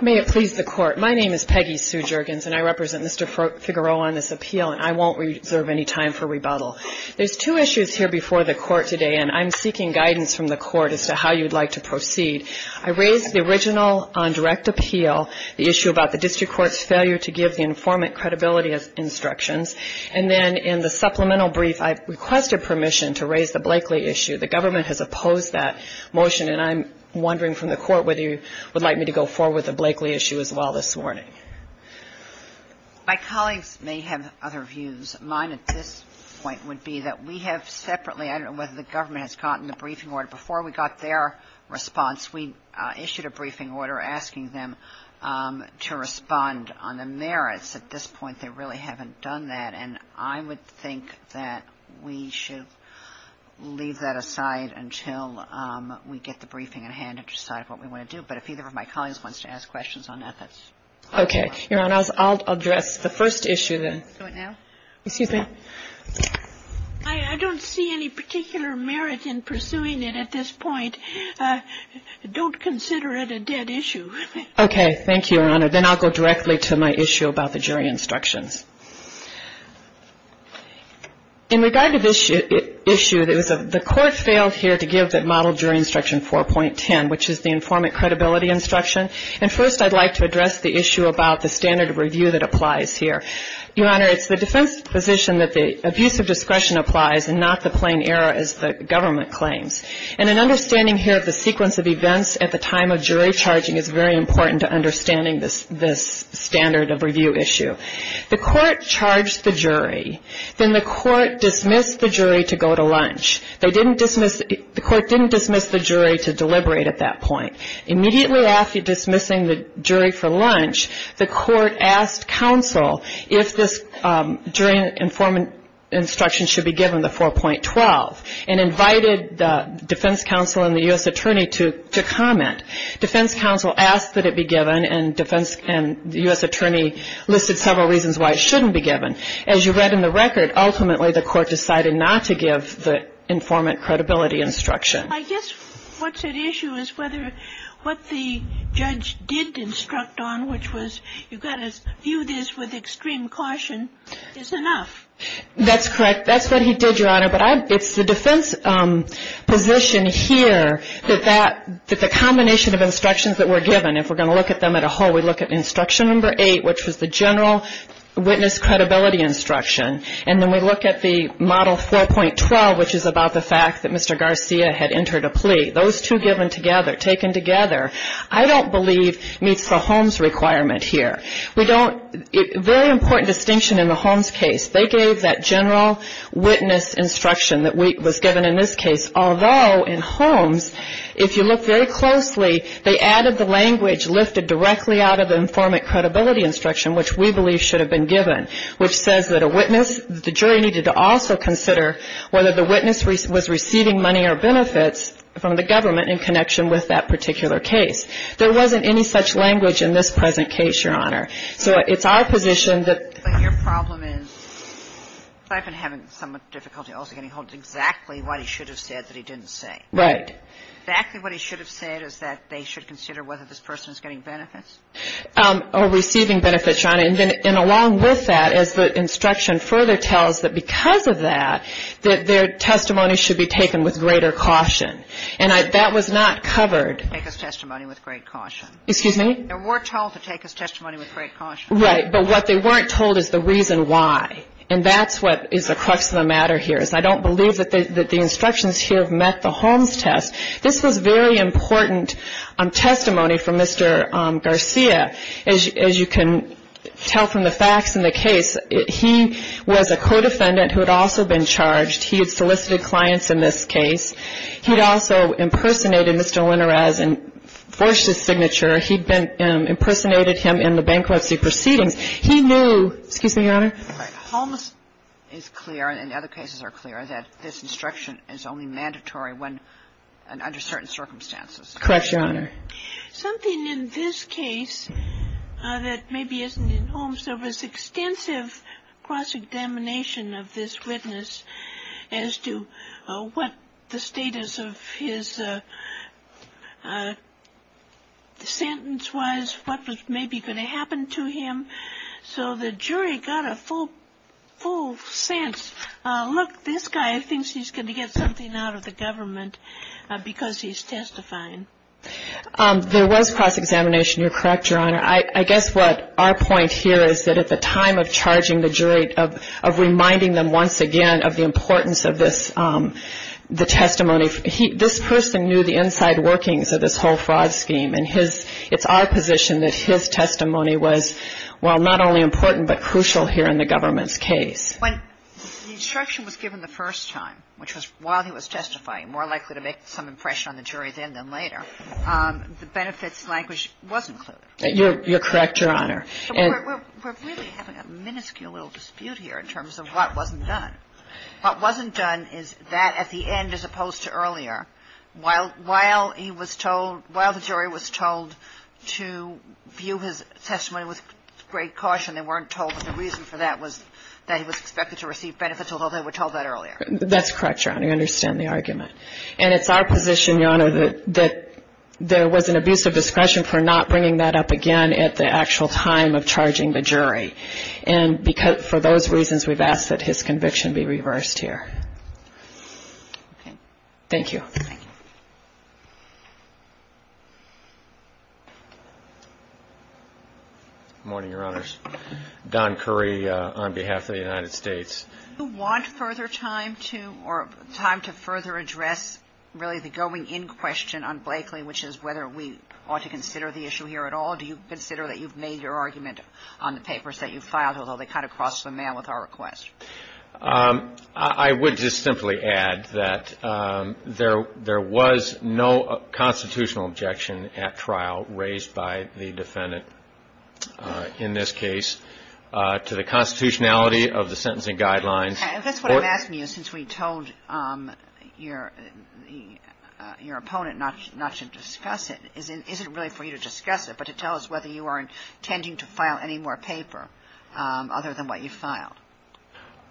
May it please the court, my name is Peggy Sue Juergens and I represent Mr. Figueroa on this appeal and I would like to ask Mr. Figueroa if he would be so kind as to state his name and where he is from. I won't reserve any time for rebuttal. There's two issues here before the court today and I'm seeking guidance from the court as to how you'd like to proceed. I raised the original on direct appeal, the issue about the district court's failure to give the informant credibility instructions, and then in the supplemental brief I requested permission to raise the Blakely issue. The government has opposed that motion and I'm wondering from the court whether you would like me to go forward with the Blakely issue as well this morning. My colleagues may have other views. Mine at this point would be that we have separately, I don't know whether the government has gotten the briefing order, before we got their response we issued a briefing order asking them to respond on the merits. At this point they really haven't done that and I would think that we should leave that aside until we get the briefing in hand and decide what we want to do. But if either of my colleagues wants to ask questions on that, that's fine. Okay. Your Honor, I'll address the first issue then. I don't see any particular merit in pursuing it at this point. Don't consider it a dead issue. Okay. Thank you, Your Honor. Then I'll go directly to my issue about the jury instructions. In regard to this issue, the court failed here to give the model jury instruction 4.10, which is the informant credibility instruction. And first I'd like to address the issue about the standard of review that applies here. Your Honor, it's the defense position that the abuse of discretion applies and not the plain error as the government claims. And an understanding here of the sequence of events at the time of jury charging is very important to understanding this standard of review issue. The court charged the jury. Then the court dismissed the jury to go to lunch. The court didn't dismiss the jury to deliberate at that point. Immediately after dismissing the jury for lunch, the court asked counsel if this jury informant instruction should be given, the 4.12, and invited the defense counsel and the U.S. attorney to comment. Defense counsel asked that it be given, and the U.S. attorney listed several reasons why it shouldn't be given. As you read in the record, ultimately the court decided not to give the informant credibility instruction. I guess what's at issue is whether what the judge did instruct on, which was you've got to view this with extreme caution, is enough. That's correct. That's what he did, Your Honor. But it's the defense position here that the combination of instructions that were given, if we're going to look at them as a whole, we look at instruction number 8, which was the general witness credibility instruction. And then we look at the model 4.12, which is about the fact that Mr. Garcia had entered a plea. Those two given together, taken together, I don't believe meets the Holmes requirement here. Very important distinction in the Holmes case. They gave that general witness instruction that was given in this case, although in Holmes, if you look very closely, they added the language lifted directly out of the informant credibility instruction, which we believe should have been given, which says that a witness, the jury needed to also consider whether the witness was receiving money or benefits from the government in connection with that particular case. There wasn't any such language in this present case, Your Honor. So it's our position that But your problem is I've been having somewhat difficulty also getting hold of exactly what he should have said that he didn't say. Right. Exactly what he should have said is that they should consider whether this person is getting benefits. Or receiving benefits, Your Honor. And along with that, as the instruction further tells, that because of that, that their testimony should be taken with greater caution. And that was not covered. They were told to take his testimony with great caution. Excuse me? They were told to take his testimony with great caution. Right. But what they weren't told is the reason why. And that's what is the crux of the matter here, is I don't believe that the instructions here have met the Holmes test. This was very important testimony for Mr. Garcia. As you can tell from the facts in the case, he was a co-defendant who had also been charged. He had solicited clients in this case. He had also impersonated Mr. Linares and forged his signature. He had impersonated him in the bankruptcy proceedings. He knew, excuse me, Your Honor? Holmes is clear, and other cases are clear, that this instruction is only mandatory when and under certain circumstances. Correct, Your Honor. Something in this case that maybe isn't in Holmes, there was extensive cross-examination of this witness as to what the status of his sentence was, what was maybe going to happen to him. So the jury got a full sense. Look, this guy thinks he's going to get something out of the government because he's testifying. There was cross-examination. You're correct, Your Honor. I guess what our point here is that at the time of charging the jury, of reminding them once again of the importance of the testimony, this person knew the inside workings of this whole fraud scheme, and it's our position that his testimony was, well, not only important but crucial here in the government's case. When the instruction was given the first time, which was while he was testifying, more likely to make some impression on the jury then than later, the benefits language wasn't clear. You're correct, Your Honor. We're really having a minuscule little dispute here in terms of what wasn't done. What wasn't done is that at the end, as opposed to earlier, while he was told, while the jury was told to view his testimony with great caution, they weren't told that the reason for that was that he was expected to receive benefits, although they were told that earlier. That's correct, Your Honor. I understand the argument. And it's our position, Your Honor, that there was an abuse of discretion for not bringing that up again at the actual time of charging the jury. And for those reasons, we've asked that his conviction be reversed here. Okay. Thank you. Thank you. Good morning, Your Honors. Don Curry on behalf of the United States. Do you want further time to or time to further address really the going in question on Blakely, which is whether we ought to consider the issue here at all? Do you consider that you've made your argument on the papers that you filed, although they kind of crossed the mail with our request? I would just simply add that there was no constitutional objection at trial raised by the defendant in this case to the constitutionality of the sentencing guidelines. That's what I'm asking you since we told your opponent not to discuss it. Is it really for you to discuss it but to tell us whether you are intending to file any more paper other than what you filed?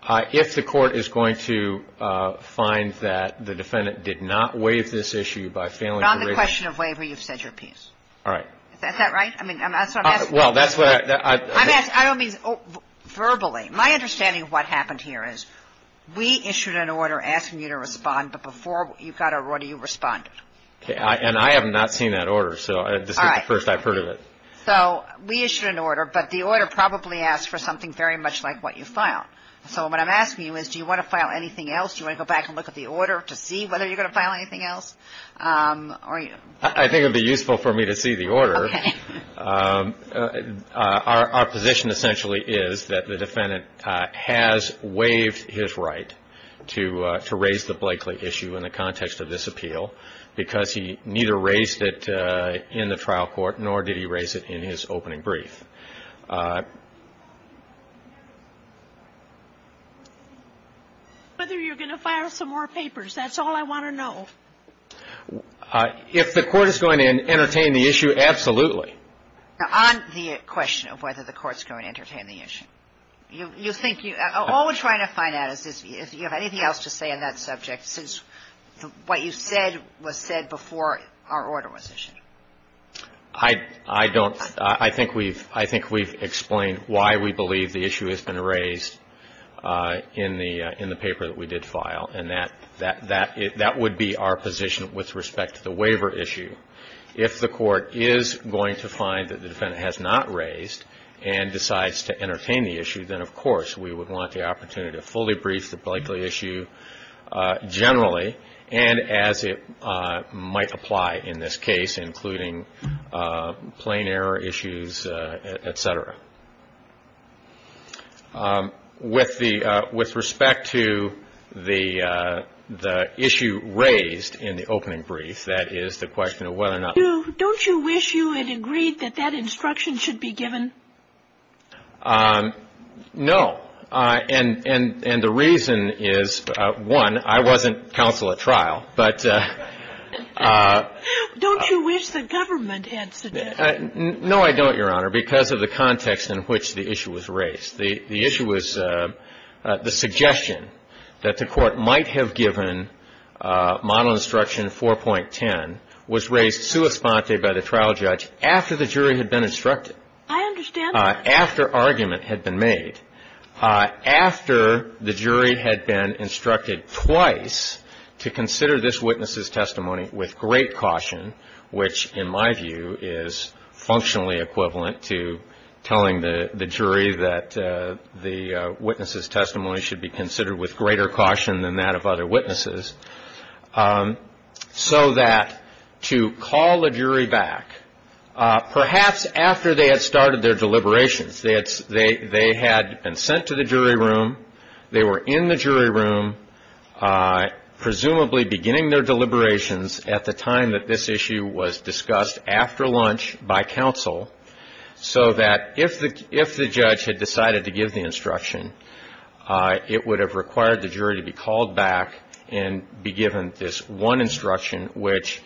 If the Court is going to find that the defendant did not waive this issue by failing to raise it. Not on the question of waiver. You've said your piece. All right. Is that right? I mean, that's what I'm asking. Well, that's what I'm asking. I don't mean verbally. My understanding of what happened here is we issued an order asking you to respond, but before you got a warrant, you responded. And I have not seen that order, so this is the first I've heard of it. So we issued an order, but the order probably asked for something very much like what you filed. So what I'm asking you is do you want to file anything else? Do you want to go back and look at the order to see whether you're going to file anything else? I think it would be useful for me to see the order. Our position essentially is that the defendant has waived his right to raise the Blakely issue in the context of this appeal because he neither raised it in the trial court nor did he raise it in his opening brief. Whether you're going to file some more papers, that's all I want to know. If the court is going to entertain the issue, absolutely. Now, on the question of whether the court's going to entertain the issue, you think you – all we're trying to find out is if you have anything else to say on that subject since what you said was said before our order was issued. I don't – I think we've – I think we've explained why we believe the issue has been raised in the paper that we did file, and that would be our position with respect to the waiver issue. If the court is going to find that the defendant has not raised and decides to entertain the issue, then of course we would want the opportunity to fully brief the Blakely issue generally and as it might apply in this case, including plain error issues, et cetera. With the – with respect to the issue raised in the opening brief, that is the question of whether or not – Don't you wish you had agreed that that instruction should be given? No. And the reason is, one, I wasn't counsel at trial, but – No, I don't, Your Honor, because of the context in which the issue was raised. The issue was the suggestion that the court might have given model instruction 4.10 was raised sua sponte by the trial judge after the jury had been instructed. I understand that. After argument had been made, after the jury had been instructed twice to consider this witness's testimony with great caution, which in my view is functionally equivalent to telling the jury that the witness's testimony should be considered with greater caution than that of other witnesses, so that to call the jury back, perhaps after they had started their deliberations, they had been sent to the jury room, they were in the jury room presumably beginning their deliberations at the time that this issue was discussed after lunch by counsel, so that if the judge had decided to give the instruction, it would have required the jury to be called back and be given this one instruction, which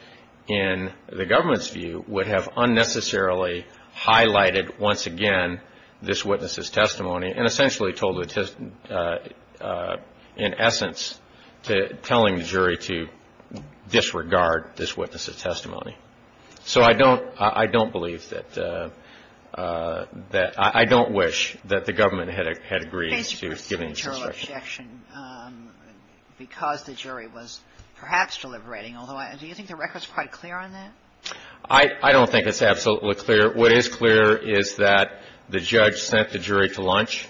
in the government's view would have unnecessarily highlighted once again this witness's testimony and essentially told the testimony in essence to telling the jury to disregard this witness's testimony. So I don't believe that the – I don't wish that the government had agreed to giving this instruction. Because the jury was perhaps deliberating, although I – do you think the record's quite clear on that? I don't think it's absolutely clear. What is clear is that the judge sent the jury to lunch,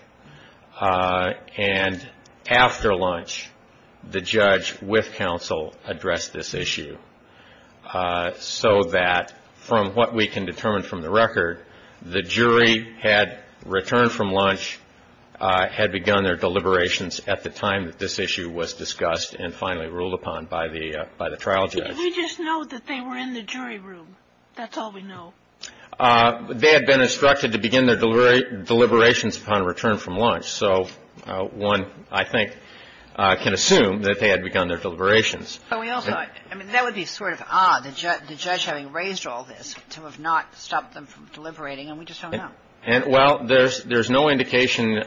and after lunch the judge with counsel addressed this issue, so that from what we can determine from the record, the jury had returned from lunch, had begun their deliberations at the time that this issue was discussed and finally ruled upon by the trial judge. We just know that they were in the jury room. That's all we know. They had been instructed to begin their deliberations upon return from lunch. So one, I think, can assume that they had begun their deliberations. But we also – I mean, that would be sort of odd, the judge having raised all this, to have not stopped them from deliberating, and we just don't know. Well, there's no indication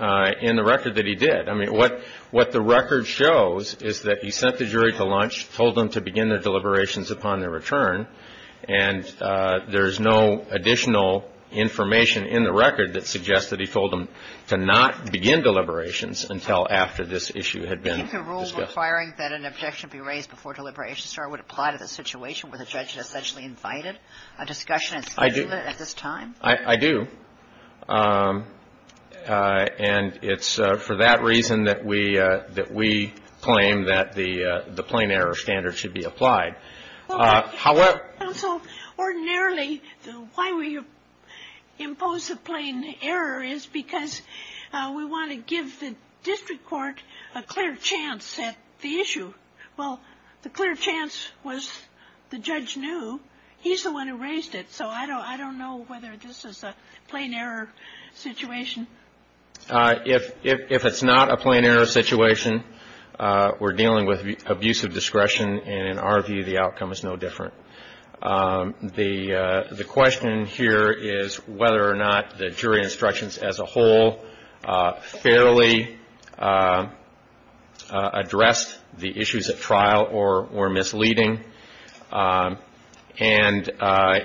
in the record that he did. I mean, what the record shows is that he sent the jury to lunch, told them to begin their deliberations upon their return, and there's no additional information in the record that suggests that he told them to not begin deliberations until after this issue had been discussed. Do you think the rule requiring that an objection be raised before deliberations start would apply to the situation where the judge had essentially invited a discussion and scheduled it at this time? I do. And it's for that reason that we claim that the plain error standard should be applied. So ordinarily, why we impose a plain error is because we want to give the district court a clear chance at the issue. Well, the clear chance was the judge knew. He's the one who raised it. So I don't know whether this is a plain error situation. If it's not a plain error situation, we're dealing with abusive discretion, and in our view, the outcome is no different. The question here is whether or not the jury instructions as a whole fairly addressed the issues at trial or misleading. And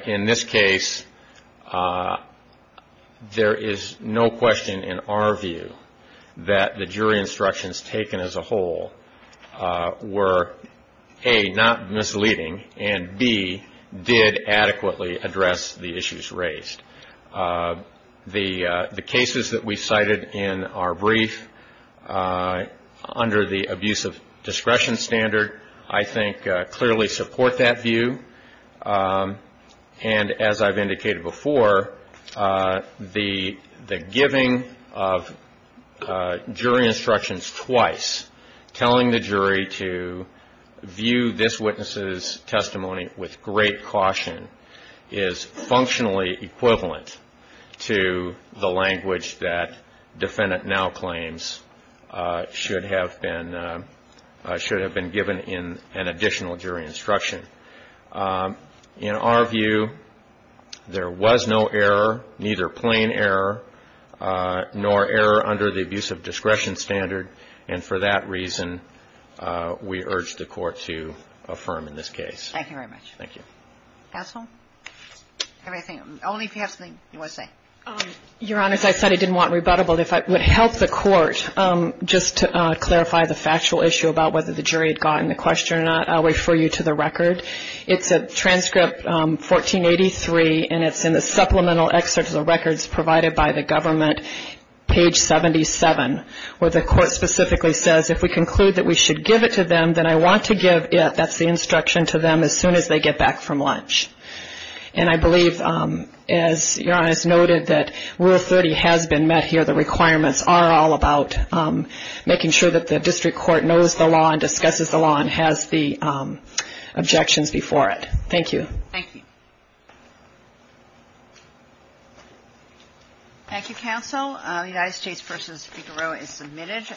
in this case, there is no question in our view that the jury instructions taken as a whole were, A, not misleading, and, B, did adequately address the issues raised. The cases that we cited in our brief under the abusive discretion standard, I think, clearly support that view. And as I've indicated before, the giving of jury instructions twice, telling the jury to view this witness's testimony with great caution, is functionally equivalent to the language that defendant now claims should have been given in an additional jury instruction. In our view, there was no error, neither plain error nor error under the abusive discretion standard, and for that reason, we urge the Court to affirm in this case. Thank you very much. Thank you. Counsel? Only if you have something you want to say. Your Honor, as I said, I didn't want rebuttable. If I would help the Court, just to clarify the factual issue about whether the jury had gotten the question or not, I'll refer you to the record. It's a transcript, 1483, and it's in the supplemental excerpt of the records provided by the government, page 77, where the Court specifically says, if we conclude that we should give it to them, then I want to give it, that's the instruction, to them as soon as they get back from lunch. And I believe, as Your Honor has noted, that Rule 30 has been met here. The requirements are all about making sure that the district court knows the law and discusses the law and has the objections before it. Thank you. Thank you. Thank you, Counsel. United States v. Figueroa is submitted.